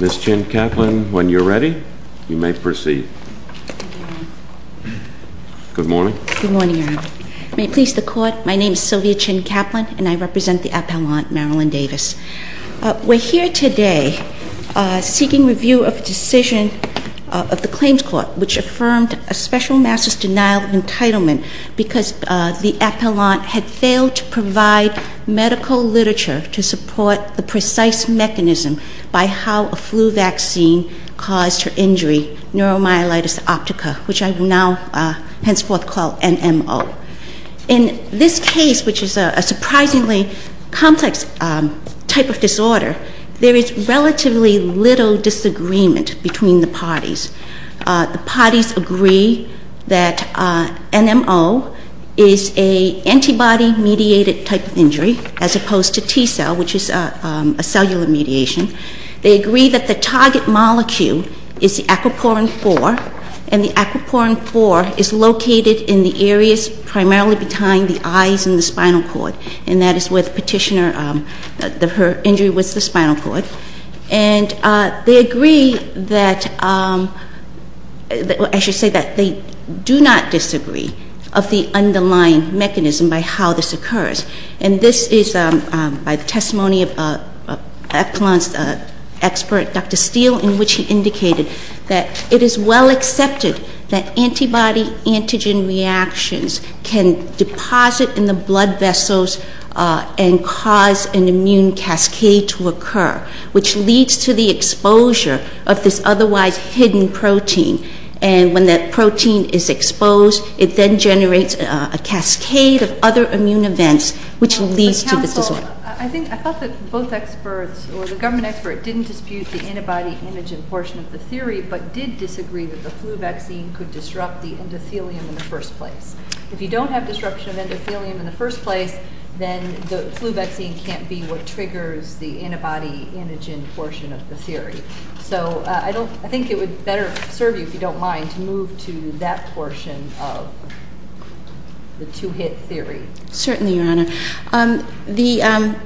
Ms. Chin Kaplan, when you're ready, you may proceed. Good morning. Good morning, Your Honor. May it please the Court, my name is Sylvia Chin Kaplan and I represent the appellant Marilyn Davis. We're here today seeking review of a decision of the Claims Court which affirmed a special master's denial of entitlement because the appellant had failed to provide medical literature to support the precise mechanism by how a flu vaccine caused her injury, neuromyelitis optica, which I will now henceforth call NMO. In this case, which is a surprisingly complex type of disorder, there is relatively little disagreement between the parties. The parties agree that NMO is an antibody-mediated type of injury as opposed to T cell, which is a cellular mediation. They agree that the target molecule is the aquaporin 4, and the aquaporin 4 is located in the areas primarily behind the eyes and the spinal cord, and that is where the petitioner her injury was the spinal cord. And they agree that, I should say that they do not disagree of the underlying mechanism by how this occurs. And this is by the testimony of appellant's expert, Dr. Steele, in which he indicated that it is well accepted that antibody-antigen reactions can deposit in the blood vessels and cause an immune cascade to occur, which leads to the exposure of this otherwise hidden protein. And when that protein is exposed, it then generates a cascade of other immune events, which leads to this disorder. I think, I thought that both experts or the government expert didn't dispute the antibody-antigen portion of the theory, but did disagree that the flu vaccine could disrupt the endothelium in the first place. If you don't have disruption of endothelium in the first place, then the flu vaccine can't be what triggers the antibody-antigen portion of the theory. So I don't, I think it would better serve you, if you don't mind, to move to that portion of the two-hit theory. Certainly, Your Honor.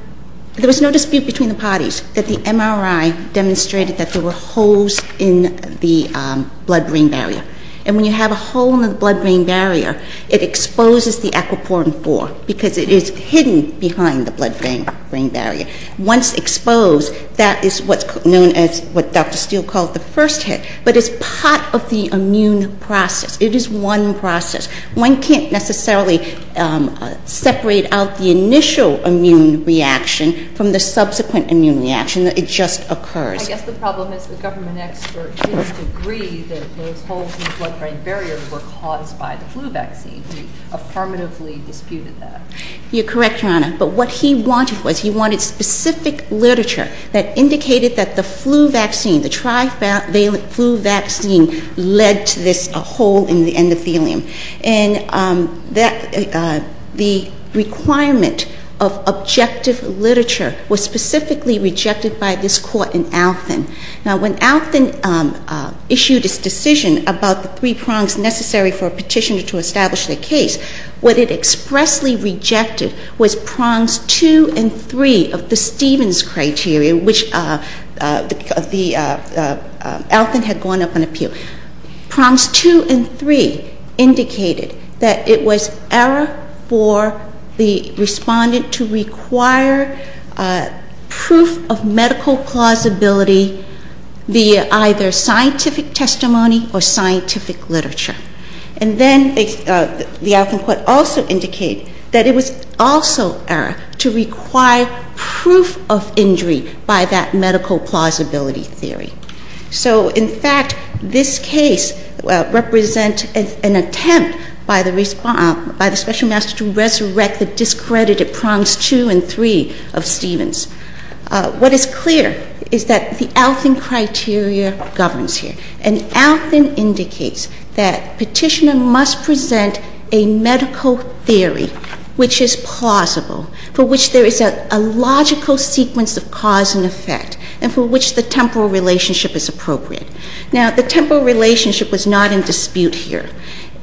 There was no dispute between the parties that the MRI demonstrated that there were holes in the blood-brain barrier. And when you have a hole in the blood-brain barrier, it exposes the aquaporin-4, because it is hidden behind the blood-brain barrier. Once exposed, that is what's known as what Dr. Steele called the first hit. But it's part of the immune process. It is one process. One can't necessarily separate out the initial immune reaction from the subsequent immune reaction. It just occurs. I guess the problem is the government expert didn't agree that those holes in the blood-brain barrier were caused by the flu vaccine. He affirmatively disputed that. You're correct, Your Honor. But what he wanted was, he wanted specific literature that indicated that the flu vaccine, the trivalent flu vaccine, led to this hole in the endothelium. And the requirement of objective literature was specifically rejected by this court in Althan. Now, when Althan issued its decision about the three prongs necessary for a petitioner to establish their case, what it expressly rejected was prongs two and three of the Stevens criteria, which Althan had gone up on appeal. Prongs two and three indicated that it was error for the respondent to require proof of medical plausibility via either scientific testimony or scientific literature. And then the Althan court also indicated that it was also error to require proof of injury by that medical plausibility theory. So in fact, this case represents an attempt by the special master to resurrect the discredited prongs two and three of Stevens. What is clear is that the Althan criteria governs here, and Althan indicates that petitioner must present a medical theory which is plausible, for which there is a logical sequence of cause and effect, and for which the temporal relationship is appropriate. Now, the temporal relationship was not in dispute here.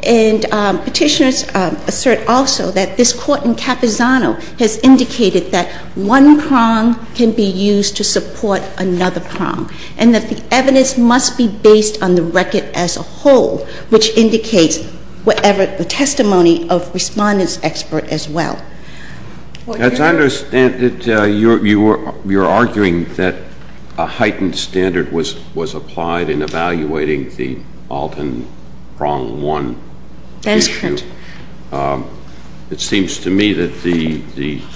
And petitioners assert also that this court in Capizzano has indicated that one prong can be used to support another prong, and that the evidence must be based on the record as a whole, which indicates whatever the testimony of respondent's expert as well. As I understand it, you're arguing that a heightened standard was applied in evaluating the Althan prong one issue. It seems to me that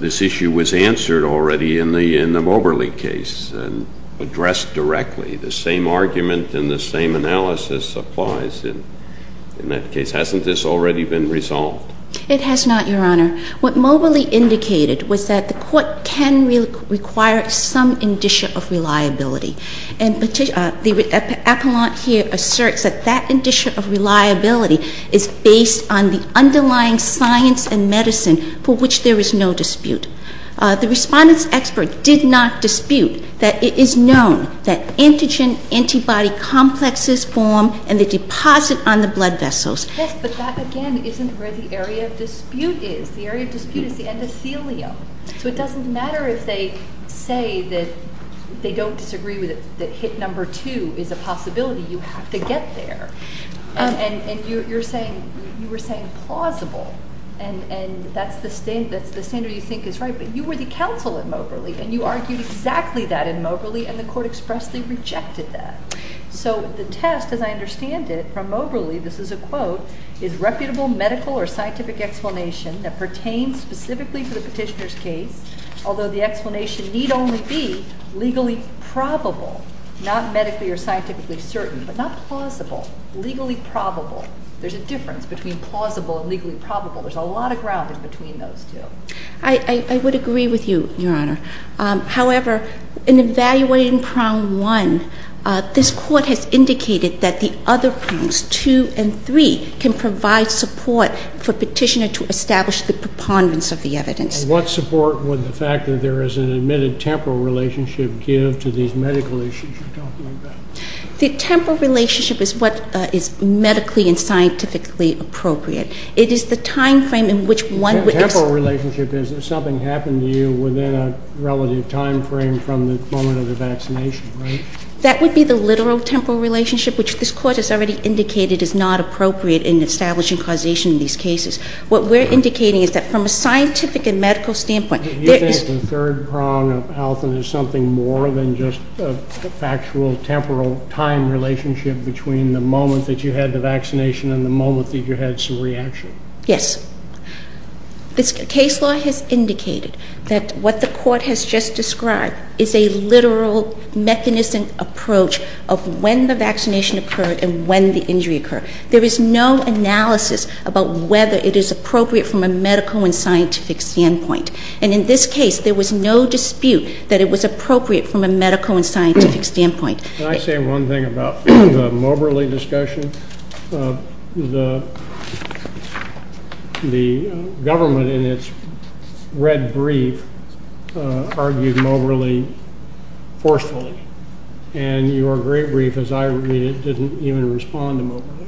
this issue was answered already in the Moberly case and addressed directly. The same argument and the same analysis applies in that case. Hasn't this already been resolved? It has not, Your Honor. What Moberly indicated was that the court can require some indicia of reliability. And the appellant here asserts that that indicia of reliability is based on the underlying science and medicine for which there is no dispute. The respondent's expert did not dispute that it is known that antigen-antibody complexes form in the deposit on the blood vessels. Yes, but that, again, isn't where the area of dispute is. The area of dispute is the endothelium. So it doesn't matter if they say that they don't disagree with it, that hit number two is a possibility. You have to get there. And you were saying plausible, and that's the standard you think is right, but you were the counsel at Moberly, and you argued exactly that in Moberly, and the court expressly rejected that. So the test, as I understand it, from Moberly, this is a quote, is reputable medical or scientific explanation that pertains specifically to the petitioner's case, although the explanation need only be legally probable, not medically or scientifically certain, but not plausible. Legally probable. There's a difference between plausible and legally probable. There's a lot of ground in between those two. I would agree with you, Your Honor. However, in evaluating prong one, this court has indicated that the other prongs, two and three, can provide support for petitioner to establish the preponderance of the evidence. What support would the fact that there is an admitted temporal relationship give to these medical issues? You're talking like that. The temporal relationship is what is medically and scientifically appropriate. It is the time frame in which one would- The temporal relationship is if something happened to you within a relative time frame from the moment of the vaccination, right? That would be the literal temporal relationship, which this court has already indicated is not appropriate in establishing causation in these cases. What we're indicating is that from a scientific and medical standpoint- Do you think the third prong of health is something more than just a factual temporal time relationship between the moment that you had the vaccination and the moment that you had some reaction? Yes. This case law has indicated that what the court has just described is a literal mechanistic approach of when the vaccination occurred and when the injury occurred. There is no analysis about whether it is appropriate from a medical and scientific standpoint. And in this case, there was no dispute that it was appropriate from a medical and scientific standpoint. Can I say one thing about the Moberly discussion? The government in its red brief argued Moberly forcefully. And your great brief, as I read it, didn't even respond to Moberly.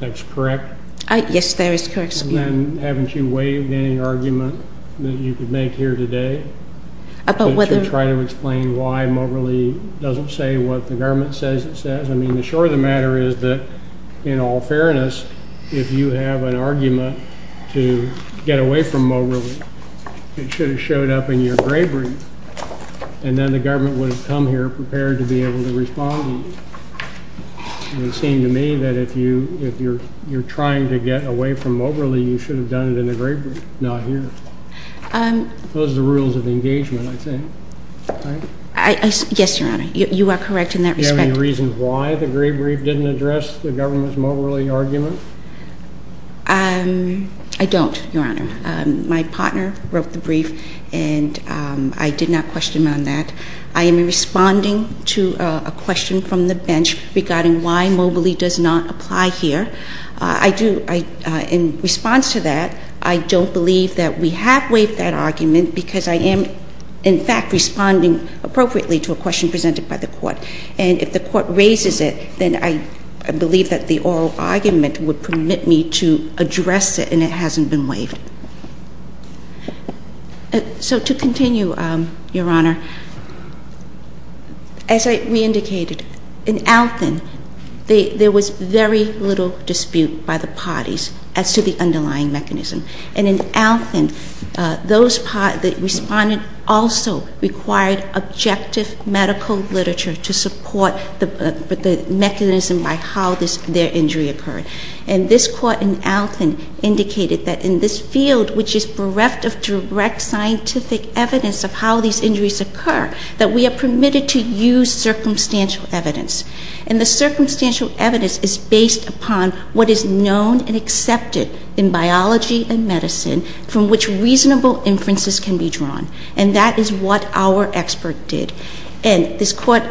That's correct? Yes, that is correct. And then haven't you waived any argument that you could make here today- About whether- Can you try to explain why Moberly doesn't say what the government says it says? I mean, the short of the matter is that, in all fairness, if you have an argument to get away from Moberly, it should have showed up in your gray brief. And then the government would have come here prepared to be able to respond to you. And it seemed to me that if you're trying to get away from Moberly, you should have done it in the gray brief, not here. Those are the rules of engagement, I think. Yes, Your Honor. You are correct in that respect. Do you have any reason why the gray brief didn't address the government's Moberly argument? I don't, Your Honor. My partner wrote the brief, and I did not question him on that. I am responding to a question from the bench regarding why Moberly does not apply here. In response to that, I don't believe that we have waived that argument because I am, in fact, responding appropriately to a question presented by the court. And if the court raises it, then I believe that the oral argument would permit me to address it, and it hasn't been waived. So to continue, Your Honor, as we indicated, in Alton, there was very little dispute by the parties as to the underlying mechanism. And in Alton, those parties that responded also required objective medical literature to support the mechanism by how their injury occurred. And this court in Alton indicated that in this field, which is bereft of direct scientific evidence of how these injuries occur, that we are permitted to use circumstantial evidence. And the circumstantial evidence is based upon what is known and accepted in biology and medicine from which reasonable inferences can be drawn. And that is what our expert did. And this court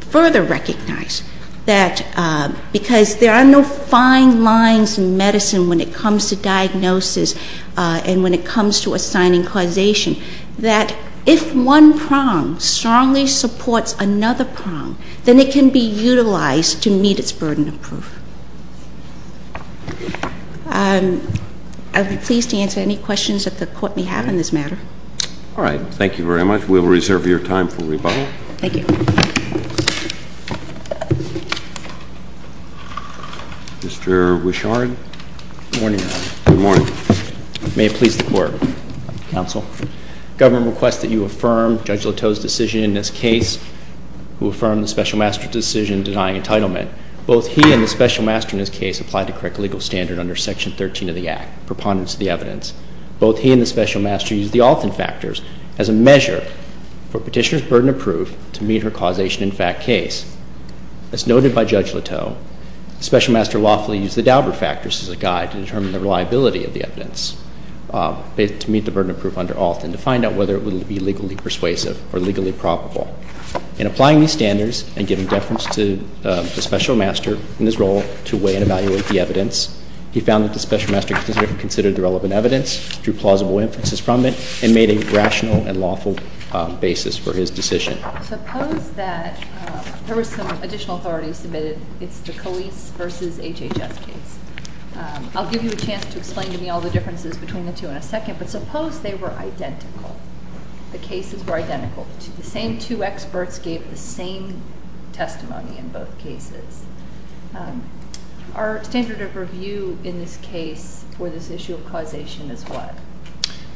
further recognized that because there are no fine lines in medicine when it comes to diagnosis and when it comes to assigning causation, that if one prong strongly supports another prong, then it can be utilized to meet its burden of proof. I would be pleased to answer any questions that the court may have on this matter. All right. Thank you very much. We'll reserve your time for rebuttal. Thank you. Mr. Wishard. Good morning, Your Honor. Good morning. May it please the Court. Counsel. Government requests that you affirm Judge Lateau's decision in this case who affirmed the Special Master's decision denying entitlement. Both he and the Special Master in this case applied the correct legal standard under Section 13 of the Act, preponderance of the evidence. Both he and the Special Master used the Alton factors as a measure for Petitioner's burden of proof to meet her causation in fact case. As noted by Judge Lateau, Special Master lawfully used the Daubert factors as a guide to determine the reliability of the evidence to meet the burden of proof under Alton to find out whether it would be legally persuasive or legally probable. In applying these standards and giving deference to the Special Master in his role to weigh and evaluate the evidence, he found that the Special Master considered the relevant evidence, drew plausible inferences from it, and made a rational and lawful basis for his decision. Suppose that there were some additional authorities submitted. It's the Calise v. HHS case. I'll give you a chance to explain to me all the differences between the two in a second, but suppose they were identical, the cases were identical. The same two experts gave the same testimony in both cases. Our standard of review in this case for this issue of causation is what?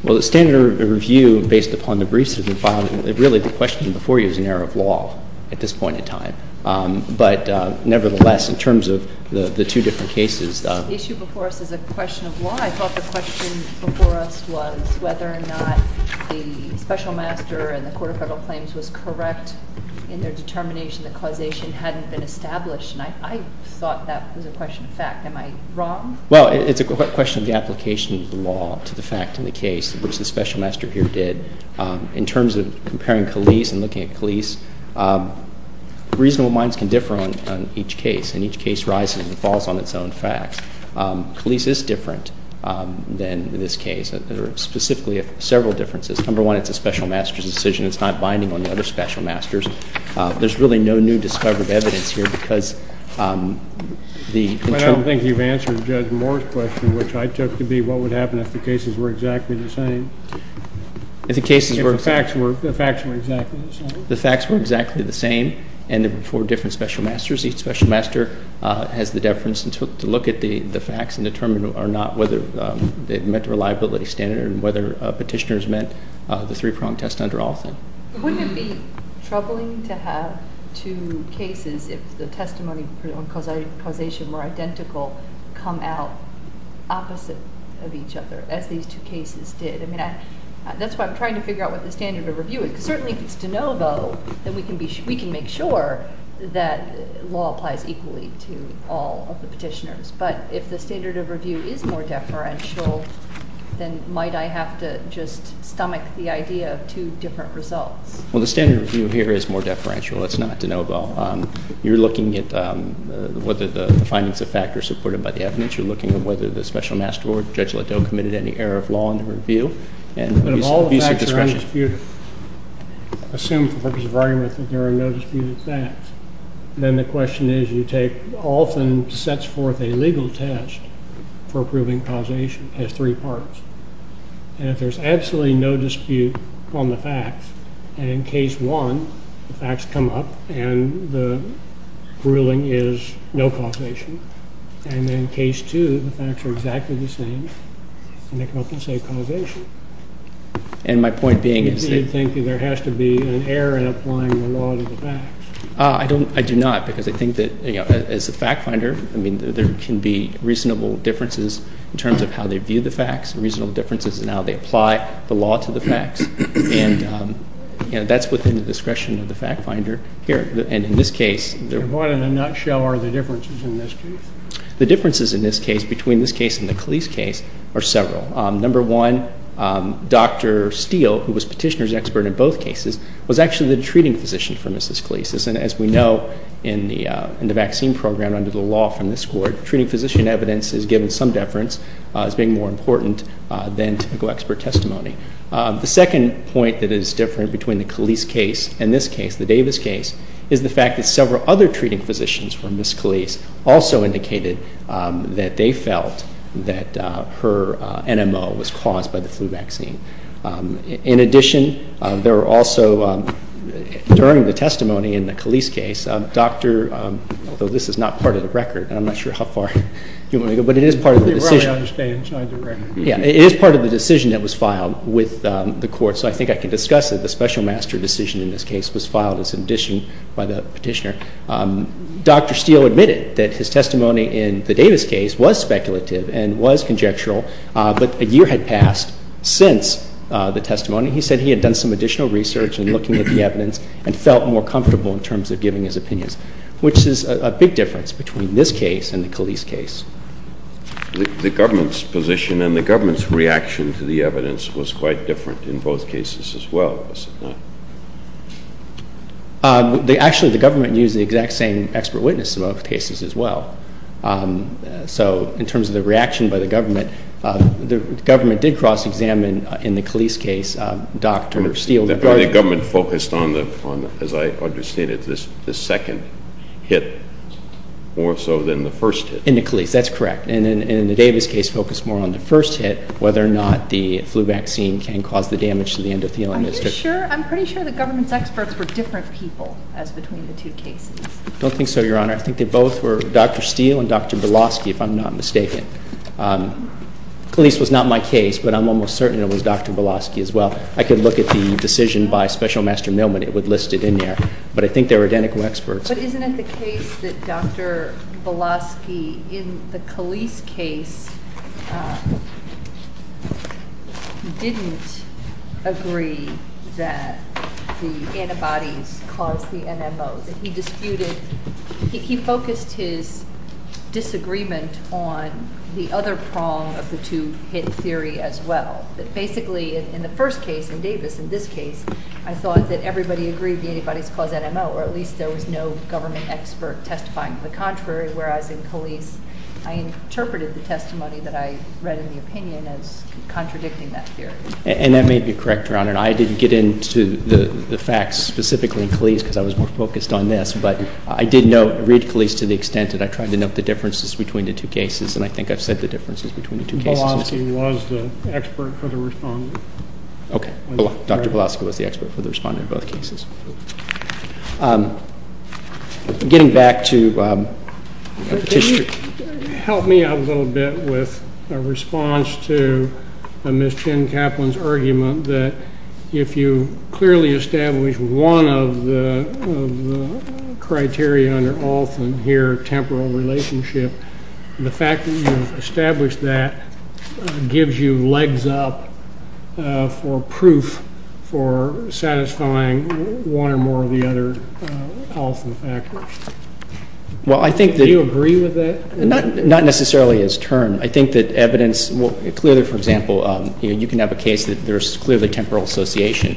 Well, the standard of review based upon the briefs that have been filed, really the question before you is an error of law at this point in time. But nevertheless, in terms of the two different cases. The issue before us is a question of law. I thought the question before us was whether or not the Special Master and the Court of Federal Claims was correct in their determination that causation hadn't been established, and I thought that was a question of fact. Am I wrong? Well, it's a question of the application of the law to the fact in the case, which the Special Master here did. In terms of comparing Calise and looking at Calise, reasonable minds can differ on each case, and each case rises and falls on its own facts. Calise is different than this case. There are specifically several differences. Number one, it's a Special Master's decision. It's not binding on the other Special Masters. There's really no new discovered evidence here because the internal ---- I don't think you've answered Judge Moore's question, which I took to be what would happen if the cases were exactly the same. If the cases were ---- If the facts were exactly the same. The facts were exactly the same, and there were four different Special Masters. Each Special Master has the deference to look at the facts and determine or not whether it met the reliability standard and whether petitioners met the three-prong test under all of them. Wouldn't it be troubling to have two cases, if the testimony and causation were identical, come out opposite of each other, as these two cases did? I mean, that's why I'm trying to figure out what the standard of review is because certainly if it's de novo, then we can make sure that law applies equally to all of the petitioners. But if the standard of review is more deferential, then might I have to just stomach the idea of two different results? Well, the standard of review here is more deferential. It's not de novo. You're looking at whether the findings of fact are supported by the evidence. You're looking at whether the Special Master or Judge Liddell committed any error of law in the review and abuse of discretion. But if all the facts are undisputed, assume for the purpose of argument that there are no disputed facts, then the question is you take, often sets forth a legal test for proving causation. It has three parts. And if there's absolutely no dispute on the facts, and in case one, the facts come up, and the ruling is no causation, and in case two, the facts are exactly the same, and they come up and say causation. And my point being is that... You'd think that there has to be an error in applying the law to the facts. I do not, because I think that, you know, as a fact finder, I mean, there can be reasonable differences in terms of how they view the facts, reasonable differences in how they apply the law to the facts. And, you know, that's within the discretion of the fact finder here. And in this case... What, in a nutshell, are the differences in this case? The differences in this case, between this case and the Cleese case, are several. Number one, Dr. Steele, who was Petitioner's expert in both cases, was actually the treating physician for Mrs. Cleese. And as we know in the vaccine program under the law from this court, treating physician evidence is given some deference as being more important than typical expert testimony. The second point that is different between the Cleese case and this case, the Davis case, is the fact that several other treating physicians for Ms. Cleese also indicated that they felt that her NMO was caused by the flu vaccine. In addition, there were also, during the testimony in the Cleese case, Dr. — although this is not part of the record, and I'm not sure how far you want to go, but it is part of the decision. You probably understand. It's not in the record. Yeah. It is part of the decision that was filed with the court. So I think I can discuss it. The special master decision in this case was filed as an addition by the Petitioner. Dr. Steele admitted that his testimony in the Davis case was speculative and was conjectural, but a year had passed since the testimony. He said he had done some additional research in looking at the evidence and felt more comfortable in terms of giving his opinions, which is a big difference between this case and the Cleese case. The government's position and the government's reaction to the evidence was quite different in both cases as well, was it not? Actually, the government used the exact same expert witness in both cases as well. So in terms of the reaction by the government, the government did cross-examine in the Cleese case Dr. Steele. The government focused on, as I understand it, the second hit more so than the first hit. In the Cleese, that's correct. And in the Davis case focused more on the first hit, whether or not the flu vaccine can cause the damage to the endothelium. Are you sure? I'm pretty sure the government's experts were different people as between the two cases. I don't think so, Your Honor. I think they both were Dr. Steele and Dr. Belosky, if I'm not mistaken. Cleese was not my case, but I'm almost certain it was Dr. Belosky as well. I could look at the decision by Special Master Mailman. It would list it in there. But I think they were identical experts. But isn't it the case that Dr. Belosky in the Cleese case didn't agree that the antibodies caused the NMO? He focused his disagreement on the other prong of the two-hit theory as well. Basically, in the first case, in Davis, in this case, I thought that everybody agreed the antibodies caused the NMO, or at least there was no government expert testifying to the contrary, whereas in Cleese I interpreted the testimony that I read in the opinion as contradicting that theory. And that may be correct, Your Honor. I didn't get into the facts specifically in Cleese because I was more focused on this. But I did read Cleese to the extent that I tried to note the differences between the two cases, and I think I've said the differences between the two cases. Belosky was the expert for the respondent. Okay. Dr. Belosky was the expert for the respondent in both cases. Getting back to Petitioner. Can you help me out a little bit with a response to Ms. Chin-Kaplan's argument that if you clearly establish one of the criteria under Olson here, temporal relationship, the fact that you've established that gives you legs up for proof for satisfying one or more of the other Olson factors? Do you agree with that? Not necessarily as termed. I think that evidence clearly, for example, you can have a case that there's clearly temporal association.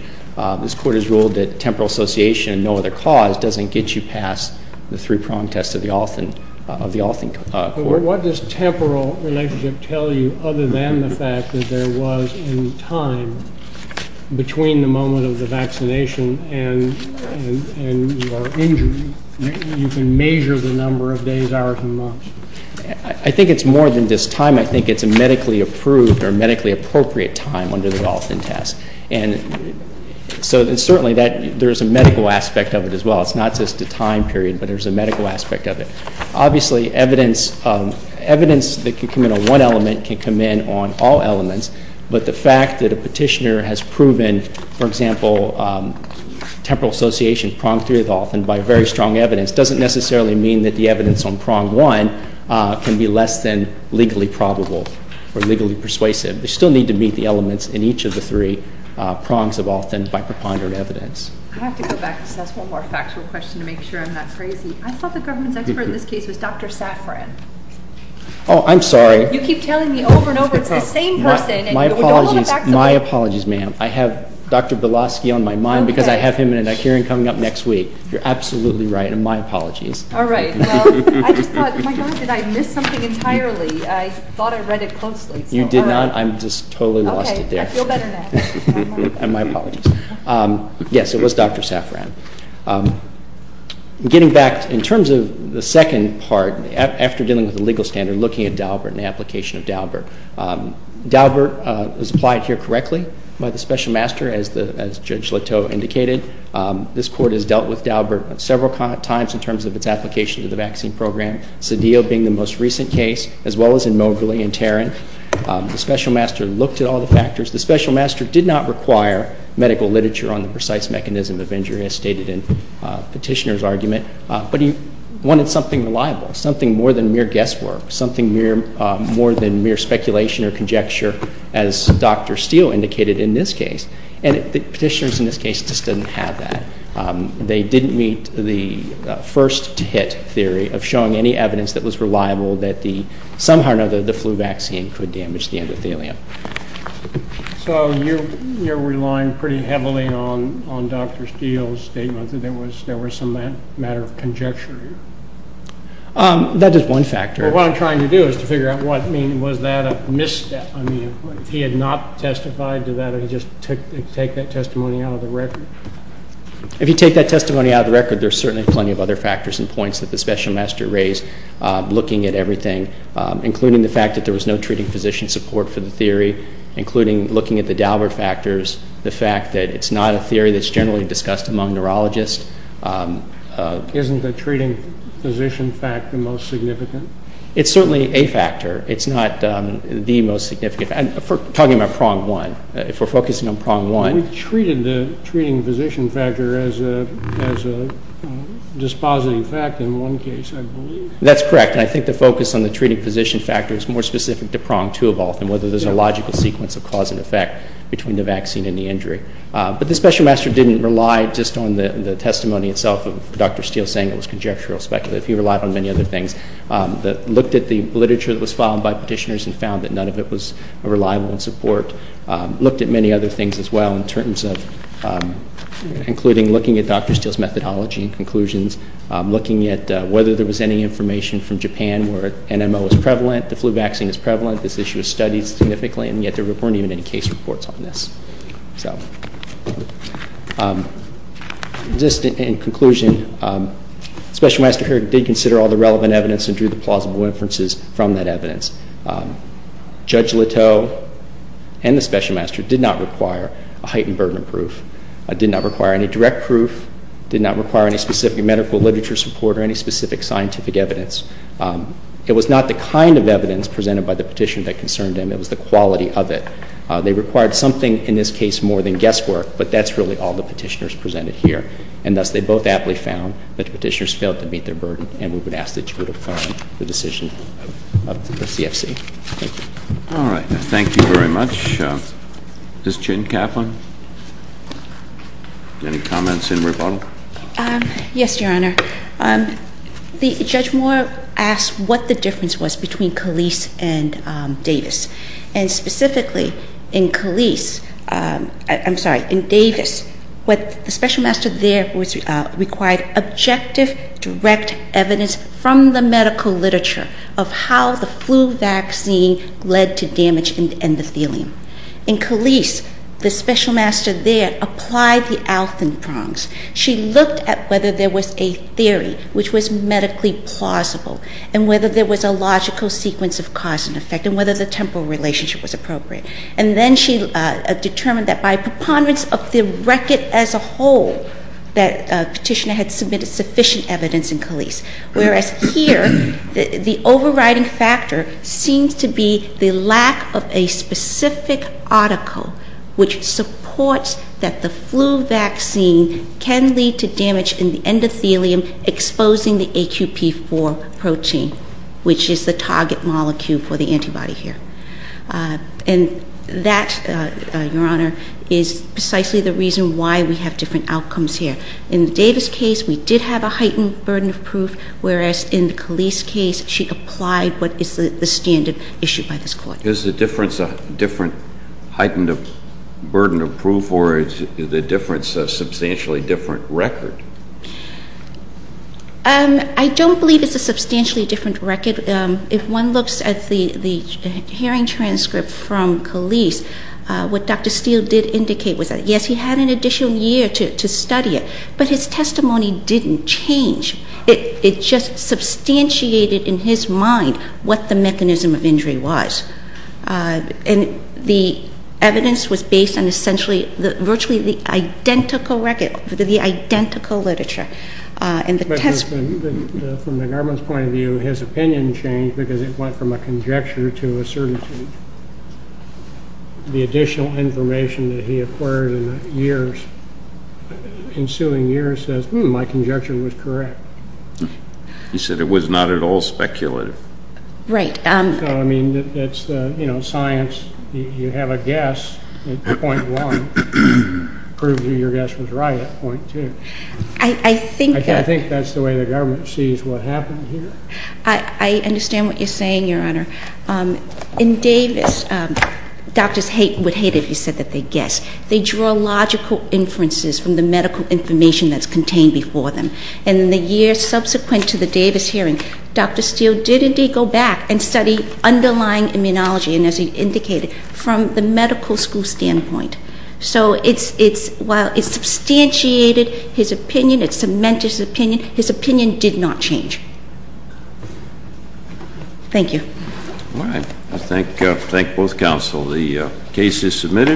This Court has ruled that temporal association and no other cause doesn't get you past the three-prong test of the Olson Court. What does temporal relationship tell you other than the fact that there was a time between the moment of the vaccination and your injury? You can measure the number of days, hours, and months. I think it's more than just time. I think it's a medically approved or medically appropriate time under the Olson test. And so certainly there's a medical aspect of it as well. It's not just a time period, but there's a medical aspect of it. Obviously, evidence that can come in on one element can come in on all elements, but the fact that a petitioner has proven, for example, temporal association pronged through with Olson by very strong evidence doesn't necessarily mean that the evidence on prong one can be less than legally probable or legally persuasive. They still need to meet the elements in each of the three prongs of Olson by preponderant evidence. I have to go back because that's one more factual question to make sure I'm not crazy. I thought the government's expert in this case was Dr. Safran. Oh, I'm sorry. You keep telling me over and over it's the same person. My apologies, ma'am. I have Dr. Belosky on my mind because I have him in a hearing coming up next week. You're absolutely right, and my apologies. All right. Well, I just thought, my gosh, did I miss something entirely? I thought I read it closely. You did not. I just totally lost it there. Okay. I feel better now. And my apologies. Yes, it was Dr. Safran. Getting back, in terms of the second part, after dealing with the legal standard, looking at Daubert and the application of Daubert. Daubert is applied here correctly by the special master, as Judge Leteau indicated. This court has dealt with Daubert several times in terms of its application to the vaccine program, Cedillo being the most recent case, as well as in Moberly and Tarrant. The special master looked at all the factors. The special master did not require medical literature on the precise mechanism of injury, as stated in Petitioner's argument. But he wanted something reliable, something more than mere guesswork, something more than mere speculation or conjecture, as Dr. Steele indicated in this case. And Petitioner's, in this case, just didn't have that. They didn't meet the first-hit theory of showing any evidence that was reliable that somehow or another the flu vaccine could damage the endothelium. So you're relying pretty heavily on Dr. Steele's statement that there was some matter of conjecture here? That is one factor. Well, what I'm trying to do is to figure out what, I mean, was that a misstep? I mean, if he had not testified, did he just take that testimony out of the record? If you take that testimony out of the record, there are certainly plenty of other factors and points that the special master raised looking at everything, including the fact that there was no treating physician support for the theory, including looking at the Daubert factors, the fact that it's not a theory that's generally discussed among neurologists. Isn't the treating physician fact the most significant? It's certainly a factor. It's not the most significant, and we're talking about prong one. If we're focusing on prong one. He treated the treating physician factor as a dispositing fact in one case, I believe. That's correct, and I think the focus on the treating physician factor is more specific to prong two of all, and whether there's a logical sequence of cause and effect between the vaccine and the injury. But the special master didn't rely just on the testimony itself of Dr. Steele saying it was conjectural speculative. He relied on many other things. He looked at the literature that was filed by petitioners and found that none of it was reliable in support. Looked at many other things as well, including looking at Dr. Steele's methodology and conclusions, looking at whether there was any information from Japan where NMO was prevalent, the flu vaccine is prevalent, this issue is studied significantly, and yet there weren't even any case reports on this. Just in conclusion, special master here did consider all the relevant evidence and drew the plausible inferences from that evidence. Judge Leteau and the special master did not require a heightened burden of proof, did not require any direct proof, did not require any specific medical literature support or any specific scientific evidence. It was not the kind of evidence presented by the petitioner that concerned him. It was the quality of it. They required something, in this case, more than guesswork, but that's really all the petitioners presented here, and thus they both aptly found that the petitioners failed to meet their burden, and we would ask that you would affirm the decision of the CFC. Thank you. All right. Thank you very much. Ms. Chin Kaplan, any comments in rebuttal? Yes, Your Honor. Judge Moore asked what the difference was between Calise and Davis, and specifically in Calise – I'm sorry, in Davis, the special master there required objective, direct evidence from the medical literature of how the flu vaccine led to damage in the endothelium. In Calise, the special master there applied the Alton prongs. She looked at whether there was a theory which was medically plausible and whether there was a logical sequence of cause and effect and whether the temporal relationship was appropriate, and then she determined that by preponderance of the record as a whole that a petitioner had submitted sufficient evidence in Calise, whereas here the overriding factor seems to be the lack of a specific article which supports that the flu vaccine can lead to damage in the endothelium, exposing the AQP4 protein, which is the target molecule for the antibody here. And that, Your Honor, is precisely the reason why we have different outcomes here. In the Davis case, we did have a heightened burden of proof, whereas in the Calise case she applied what is the standard issued by this Court. Is the difference a heightened burden of proof or is the difference a substantially different record? I don't believe it's a substantially different record. If one looks at the hearing transcript from Calise, what Dr. Steele did indicate was that, yes, he had an additional year to study it, but his testimony didn't change. It just substantiated in his mind what the mechanism of injury was. And the evidence was based on essentially virtually the identical literature. But from the government's point of view, his opinion changed because it went from a conjecture to a certainty. The additional information that he acquired in the ensuing years says, hmm, my conjecture was correct. He said it was not at all speculative. Right. So, I mean, it's science. You have a guess at point one. Proving your guess was right at point two. I think that's the way the government sees what happened here. I understand what you're saying, Your Honor. In Davis, doctors would hate it if you said that they'd guess. They draw logical inferences from the medical information that's contained before them. And in the years subsequent to the Davis hearing, Dr. Steele did indeed go back and study underlying immunology, and as he indicated, from the medical school standpoint. So while it substantiated his opinion, it cemented his opinion, his opinion did not change. Thank you. All right. I thank both counsel. The case is submitted.